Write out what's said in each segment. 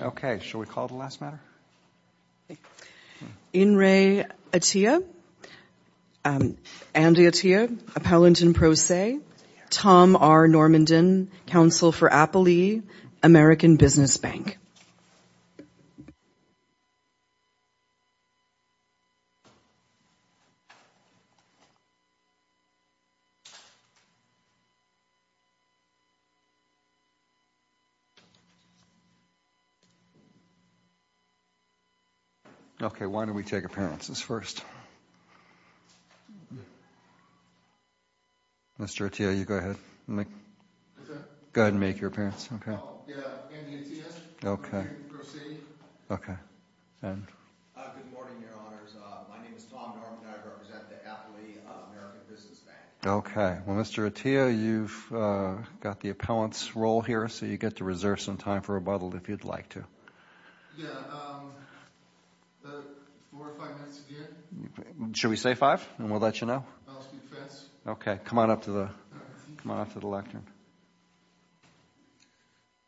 Okay, shall we call the last matter? In re Atiyeh, Andy Atiyeh, Appellant in Pro Se, Tom R. Normandin, Counsel for Appalee, American Business Bank. Okay, why don't we take appearances first? Mr. Atiyeh, you go ahead. Go ahead and make your appearance. Andy Atiyeh, Appellant in Pro Se. Good morning, your honors. My name is Tom Normandin. I represent the Appalee American Business Bank. Okay, well, Mr. Atiyeh, you've got the appellant's role here, so you get to reserve some time for rebuttal if you'd like to. Should we say five and we'll let you know? Okay, come on up to the lectern.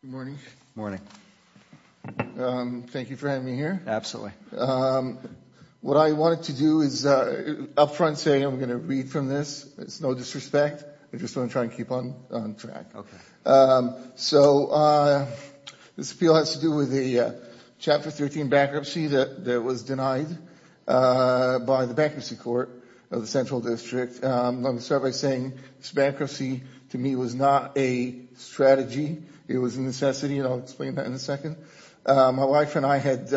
Good morning. Thank you for having me here. Absolutely. What I wanted to do is up front say I'm going to read from this. It's no disrespect. I just want to try and keep on track. So this appeal has to do with the Chapter 13 bankruptcy that was denied by the Bankruptcy Court of the Central District. Let me start by saying this bankruptcy to me was not a strategy. It was a necessity, and I'll explain that in a second. My wife and I had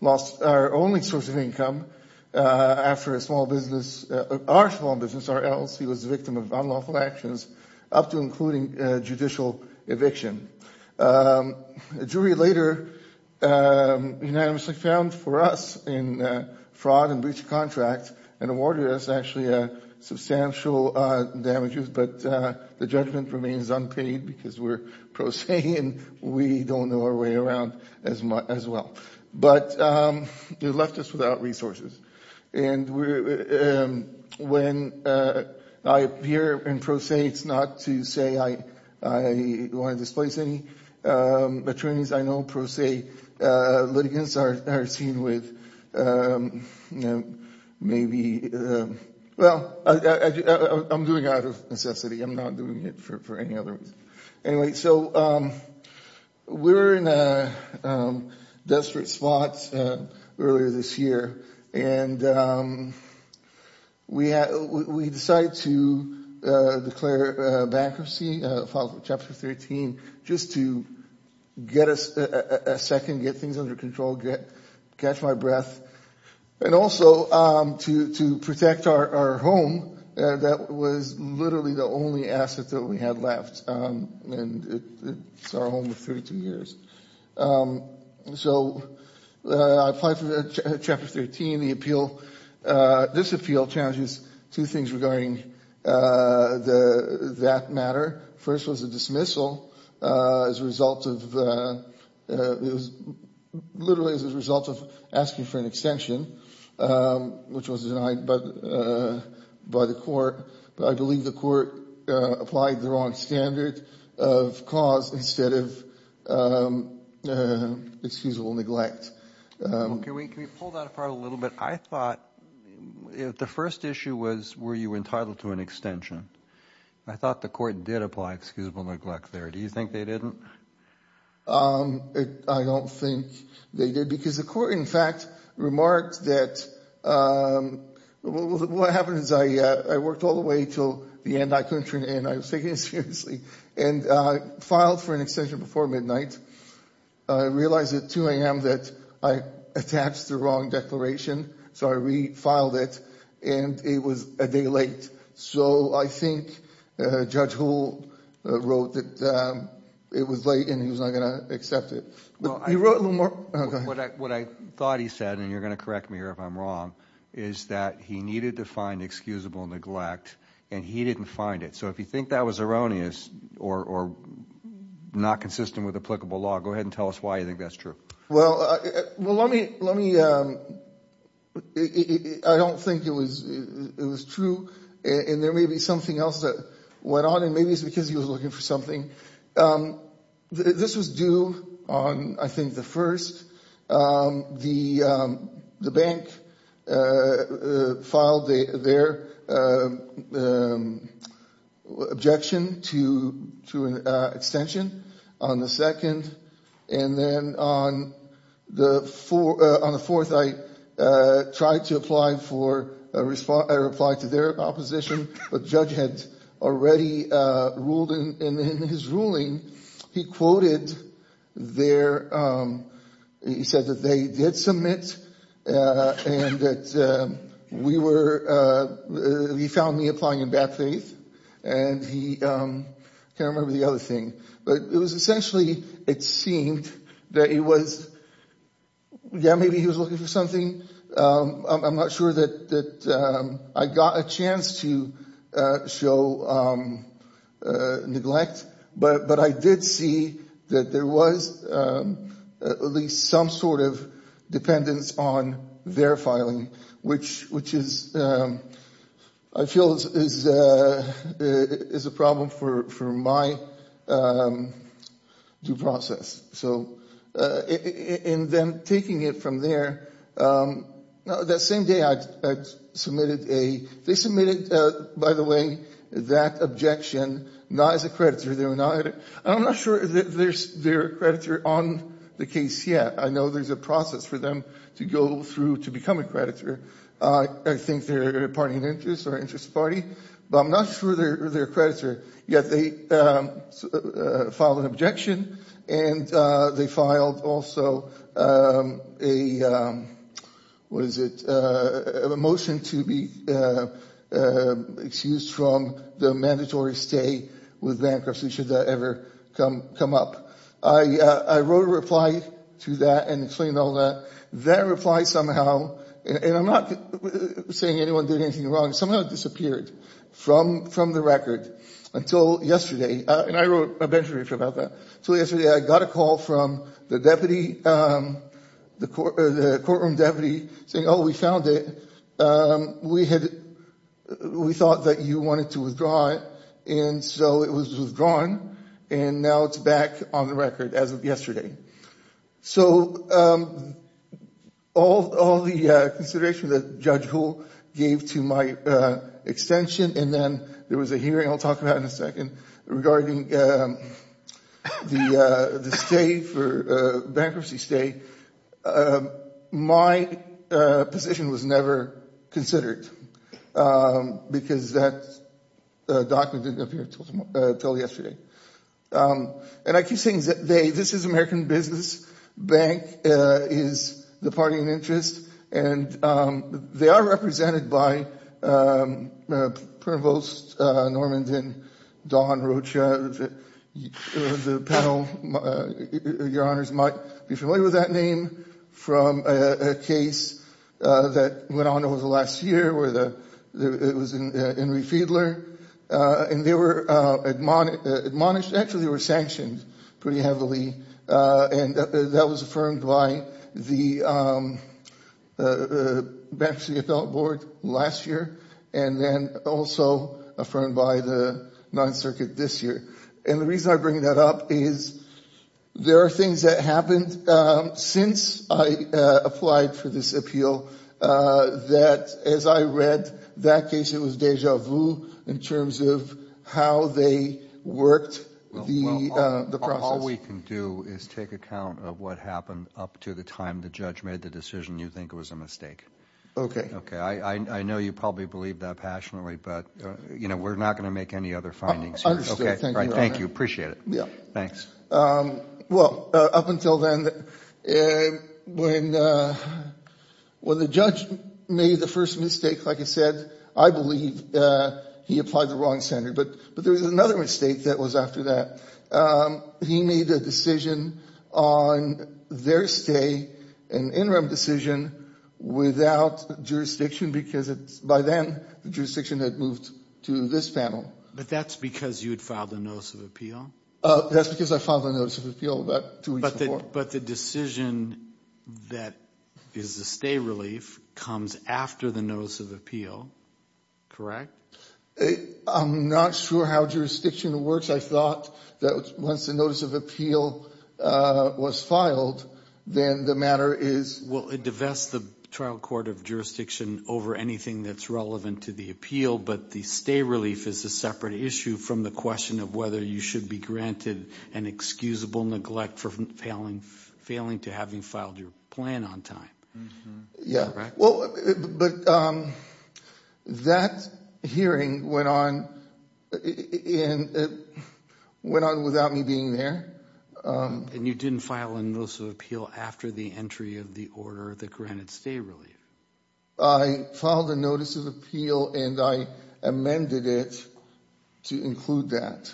lost our only source of income after a small business, our small business, our LLC was a victim of unlawful actions, up to and including judicial eviction. A jury later unanimously found for us in fraud and breach of contract and awarded us actually substantial damages, but the judgment remains unpaid because we're pro se and we don't know our way around as well. But they left us without resources, and when I appear in pro se, it's not to say I want to displace any attorneys. I know pro se litigants are seen with maybe, well, I'm doing it out of necessity. I'm not doing it for any other reason. Anyway, so we were in a desperate spot earlier this year, and we decided to declare bankruptcy following Chapter 13 just to get a second, get things under control, catch my breath. And also to protect our home that was literally the only asset that we had left, and it's our home of 32 years. So I applied for Chapter 13. This appeal challenges two things regarding that matter. First was a dismissal as a result of, literally as a result of asking for an extension, which was denied by the court. I believe the court applied the wrong standard of cause instead of excusable neglect. Can we pull that apart a little bit? I thought the first issue was were you entitled to an extension? I thought the court did apply excusable neglect there. Do you think they didn't? I don't think they did because the court, in fact, remarked that what happened is I worked all the way until the end. I couldn't turn it in. I was taking it seriously and filed for an extension before midnight. I realized at 2 a.m. that I attached the wrong declaration, so I refiled it, and it was a day late. So I think Judge Hull wrote that it was late and he was not going to accept it. What I thought he said, and you're going to correct me here if I'm wrong, is that he needed to find excusable neglect, and he didn't find it. So if you think that was erroneous or not consistent with applicable law, go ahead and tell us why you think that's true. Well, let me – I don't think it was true, and there may be something else that went on, and maybe it's because he was looking for something. This was due on, I think, the 1st. The bank filed their objection to an extension on the 2nd. And then on the 4th, I tried to apply to their opposition, but Judge had already ruled in his ruling. He quoted their – he said that they did submit and that we were – he found me applying in bad faith, and he – I can't remember the other thing. But it was essentially it seemed that he was – yeah, maybe he was looking for something. I'm not sure that I got a chance to show neglect, but I did see that there was at least some sort of dependence on their filing, which is – I feel is a problem for my due process. And then taking it from there, that same day I submitted a – they submitted, by the way, that objection not as a creditor. I'm not sure they're a creditor on the case yet. I know there's a process for them to go through to become a creditor. I think they're a party of interest or interest party, but I'm not sure they're a creditor. Yet they filed an objection, and they filed also a – what is it – a motion to be excused from the mandatory stay with bankruptcy should that ever come up. I wrote a reply to that and explained all that. That reply somehow – and I'm not saying anyone did anything wrong – somehow it disappeared from the record until yesterday. And I wrote a benchmark about that. Until yesterday I got a call from the deputy – the courtroom deputy saying, oh, we found it. We had – we thought that you wanted to withdraw it, and so it was withdrawn, and now it's back on the record as of yesterday. So all the consideration that Judge Hull gave to my extension, and then there was a hearing I'll talk about in a second regarding the stay for – bankruptcy stay. My position was never considered because that document didn't appear until yesterday. And I keep saying that they – this is American Business Bank is the party of interest, and they are represented by Provost Normand and Don Rocha. The panel, your honors, might be familiar with that name from a case that went on over the last year where the – it was in Enri Fiedler. And they were admonished – actually they were sanctioned pretty heavily, and that was affirmed by the Bank of Seattle Board last year, and then also affirmed by the Ninth Circuit this year. And the reason I bring that up is there are things that happened since I applied for this appeal that, as I read, that case it was deja vu in terms of how they worked the process. Well, all we can do is take account of what happened up to the time the judge made the decision you think was a mistake. Okay. Okay. I know you probably believe that passionately, but, you know, we're not going to make any other findings here. I understand. Thank you, your honor. Thank you. I appreciate it. Thanks. Well, up until then, when the judge made the first mistake, like I said, I believe he applied the wrong standard. But there was another mistake that was after that. He made a decision on their stay, an interim decision, without jurisdiction because by then the jurisdiction had moved to this panel. But that's because you had filed a notice of appeal? That's because I filed a notice of appeal about two weeks before. But the decision that is a stay relief comes after the notice of appeal, correct? I'm not sure how jurisdiction works. I thought that once the notice of appeal was filed, then the matter is… Well, it divests the trial court of jurisdiction over anything that's relevant to the appeal, but the stay relief is a separate issue from the question of whether you should be granted an excusable neglect for failing to having filed your plan on time. Yeah. Correct? Well, but that hearing went on without me being there. And you didn't file a notice of appeal after the entry of the order that granted stay relief? I filed a notice of appeal and I amended it to include that.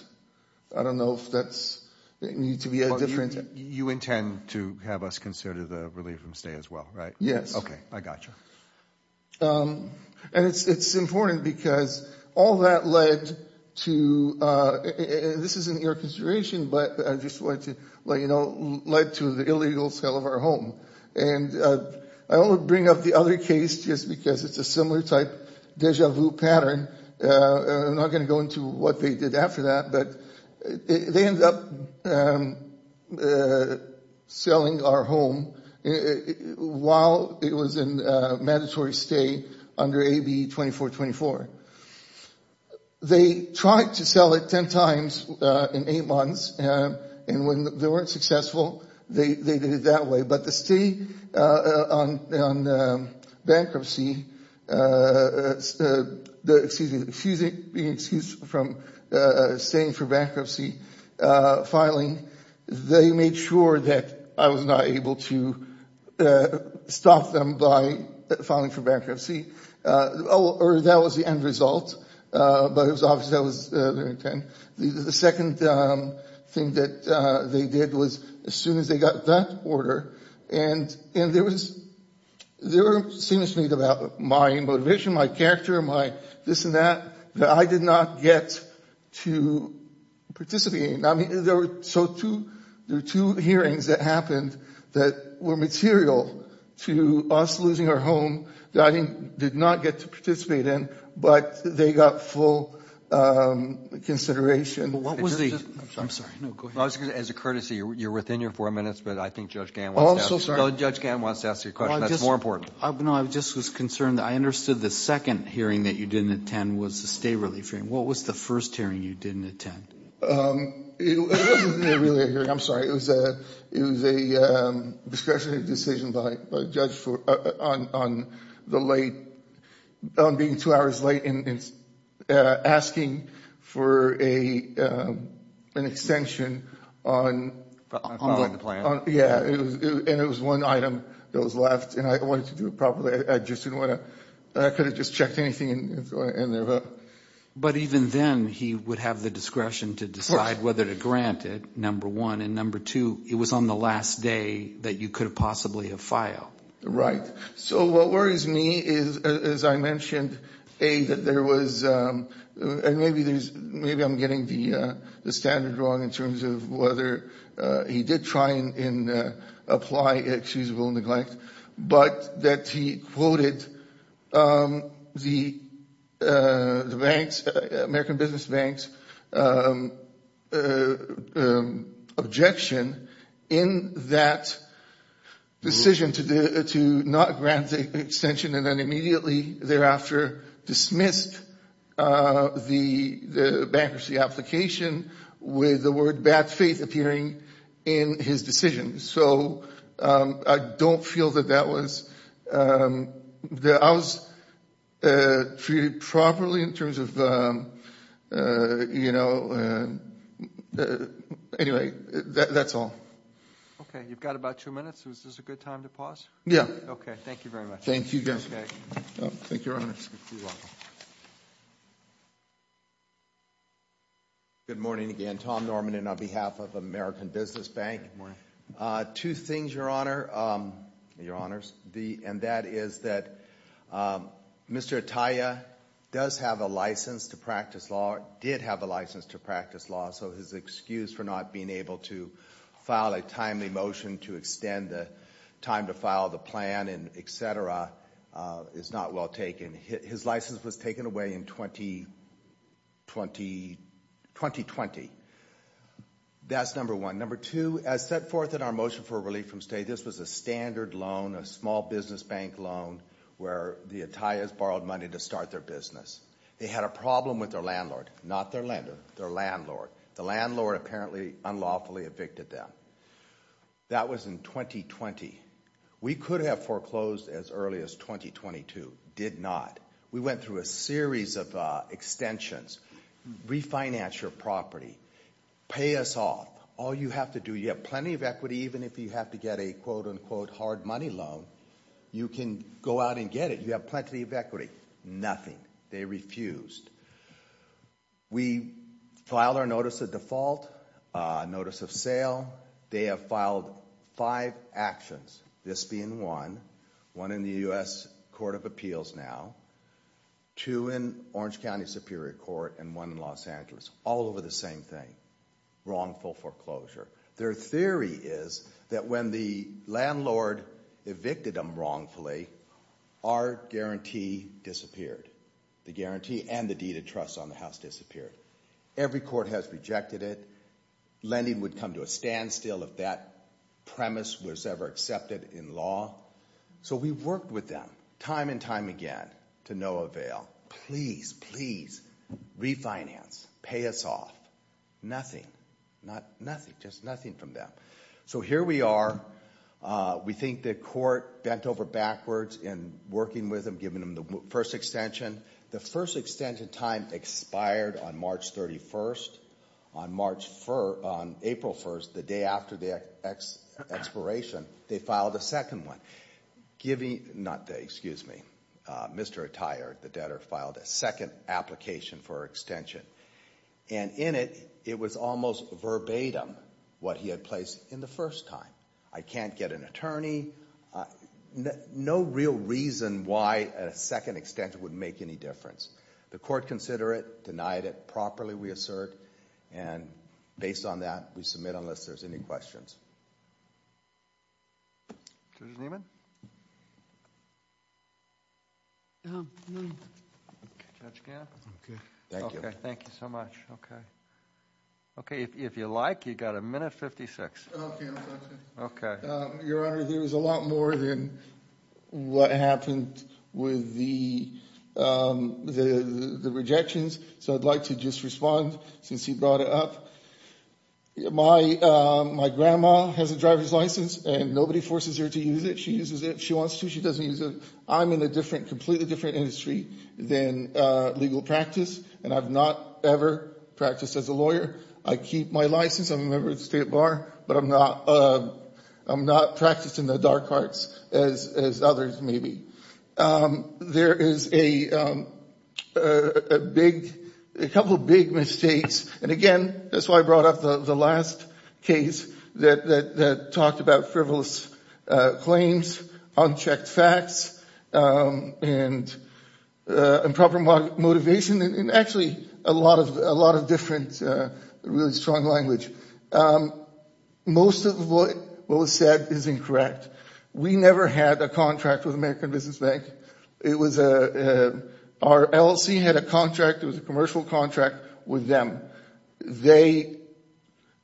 I don't know if that needs to be a different… You intend to have us consider the relief from stay as well, right? Yes. Okay. I got you. And it's important because all that led to… This isn't your consideration, but I just wanted to let you know, led to the illegal sale of our home. And I only bring up the other case just because it's a similar type deja vu pattern. I'm not going to go into what they did after that, but they ended up selling our home while it was in mandatory stay under AB 2424. They tried to sell it ten times in eight months, and when they weren't successful, they did it that way. But the stay on bankruptcy, excuse me, being excused from staying for bankruptcy filing, they made sure that I was not able to stop them by filing for bankruptcy. Or that was the end result, but it was obvious that was their intent. The second thing that they did was as soon as they got that order, and there was… There were statements made about my motivation, my character, my this and that, that I did not get to participate in. There were two hearings that happened that were material to us losing our home that I did not get to participate in, but they got full consideration. What was the… I'm sorry. No, go ahead. As a courtesy, you're within your four minutes, but I think Judge Gannon wants to ask you a question. Oh, I'm so sorry. Judge Gannon wants to ask you a question. That's more important. No, I just was concerned. I understood the second hearing that you didn't attend was the stay relief hearing. What was the first hearing you didn't attend? It wasn't a relief hearing. I'm sorry. It was a discretionary decision by a judge on the late… on being two hours late and asking for an extension on… On the plan. Yeah, and it was one item that was left, and I wanted to do it properly. I just didn't want to… I could have just checked anything and… But even then, he would have the discretion to decide whether to grant it, number one, and number two, it was on the last day that you could have possibly have filed. Right. So what worries me is, as I mentioned, A, that there was… and maybe there's… maybe I'm getting the standard wrong in terms of whether he did try and apply excusable neglect, but that he quoted the bank's… American Business Bank's objection in that decision to not grant the extension, and then immediately thereafter dismissed the bankruptcy application with the word bad faith appearing in his decision. So I don't feel that that was… I was treated properly in terms of… anyway, that's all. Okay. You've got about two minutes. Is this a good time to pause? Yeah. Okay. Thank you very much. Thank you, Judge. Thank you, Your Honor. You're welcome. Good morning again. Tom Norman, and on behalf of American Business Bank. Good morning. Two things, Your Honor, Your Honors, and that is that Mr. Atiyah does have a license to practice law, did have a license to practice law, so his excuse for not being able to file a timely motion to extend the time to file the plan and et cetera is not well taken. His license was taken away in 2020. That's number one. Number two, as set forth in our motion for relief from state, this was a standard loan, a small business bank loan where the Atiyahs borrowed money to start their business. They had a problem with their landlord, not their lender, their landlord. The landlord apparently unlawfully evicted them. That was in 2020. We could have foreclosed as early as 2022, did not. We went through a series of extensions. Refinance your property. Pay us off. All you have to do, you have plenty of equity even if you have to get a quote-unquote hard money loan. You can go out and get it. You have plenty of equity. Nothing. They refused. We filed our notice of default, notice of sale. They have filed five actions, this being one, one in the U.S. Court of Appeals now, two in Orange County Superior Court, and one in Los Angeles. All over the same thing. Wrongful foreclosure. Their theory is that when the landlord evicted them wrongfully, our guarantee disappeared. The guarantee and the deed of trust on the house disappeared. Every court has rejected it. Lending would come to a standstill if that premise was ever accepted in law. So we worked with them time and time again to no avail. Please, please refinance. Pay us off. Nothing. Nothing. Just nothing from them. So here we are. We think the court bent over backwards in working with them, giving them the first extension. The first extension time expired on March 31st. On April 1st, the day after the expiration, they filed a second one. Excuse me. Mr. Attire, the debtor, filed a second application for extension. And in it, it was almost verbatim what he had placed in the first time. I can't get an attorney. No real reason why a second extension would make any difference. The court considered it, denied it. It's not something that properly we assert. And based on that, we submit unless there's any questions. Judge Niemann? Judge Gamp? Okay. Thank you. Okay. Thank you so much. Okay. Okay. If you like, you've got a minute 56. Okay. Your Honor, there was a lot more than what happened with the rejections. So I'd like to just respond since you brought it up. My grandma has a driver's license, and nobody forces her to use it. She uses it if she wants to. She doesn't use it. I'm in a different, completely different industry than legal practice, and I've not ever practiced as a lawyer. I keep my license. I'm a member of the state bar, but I'm not practicing the dark arts as others may be. There is a big, a couple big mistakes. And, again, that's why I brought up the last case that talked about frivolous claims, unchecked facts, and improper motivation, and actually a lot of different really strong language. Most of what was said is incorrect. We never had a contract with American Business Bank. It was a, our LLC had a contract. It was a commercial contract with them. They,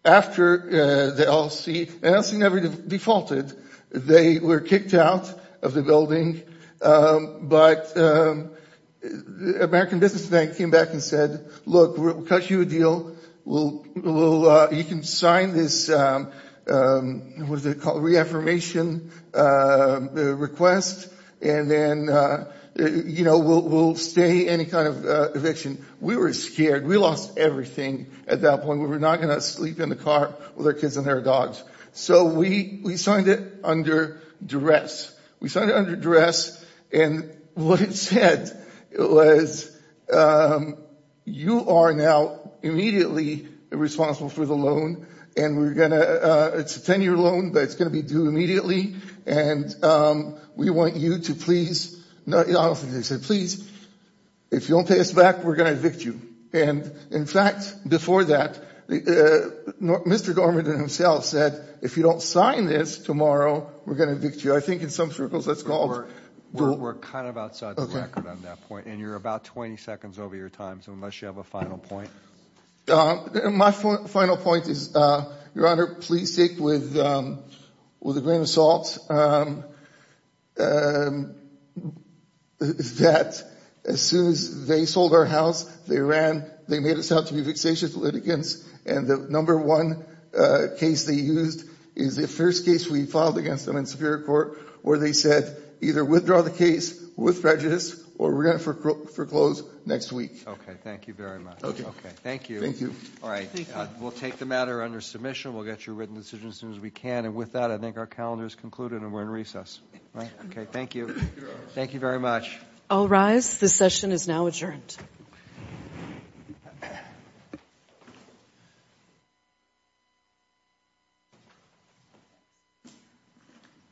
after the LLC, the LLC never defaulted. They were kicked out of the building. But American Business Bank came back and said, look, we'll cut you a deal. You can sign this, what is it called, reaffirmation request, and then, you know, we'll stay any kind of eviction. We were scared. We lost everything at that point. We were not going to sleep in the car with our kids and their dogs. So we signed it under duress. We signed it under duress, and what it said was, you are now immediately responsible for the loan, and we're going to, it's a 10-year loan, but it's going to be due immediately, and we want you to please, I don't think they said please, if you don't pay us back, we're going to evict you. And, in fact, before that, Mr. Dormand and himself said, if you don't sign this tomorrow, we're going to evict you. I think in some circles that's called. We're kind of outside the record on that point, and you're about 20 seconds over your time, so unless you have a final point. My final point is, Your Honor, please take with a grain of salt that as soon as they sold our house, they ran, they made us out to be vexatious litigants, and the number one case they used is the first case we filed against them in Superior Court, where they said either withdraw the case with prejudice, or we're going to foreclose next week. Okay, thank you very much. Okay. Thank you. Thank you. All right, we'll take the matter under submission. We'll get your written decision as soon as we can, and with that, I think our calendar is concluded, and we're in recess, right? Okay, thank you. Thank you very much. I'll rise. This session is now adjourned.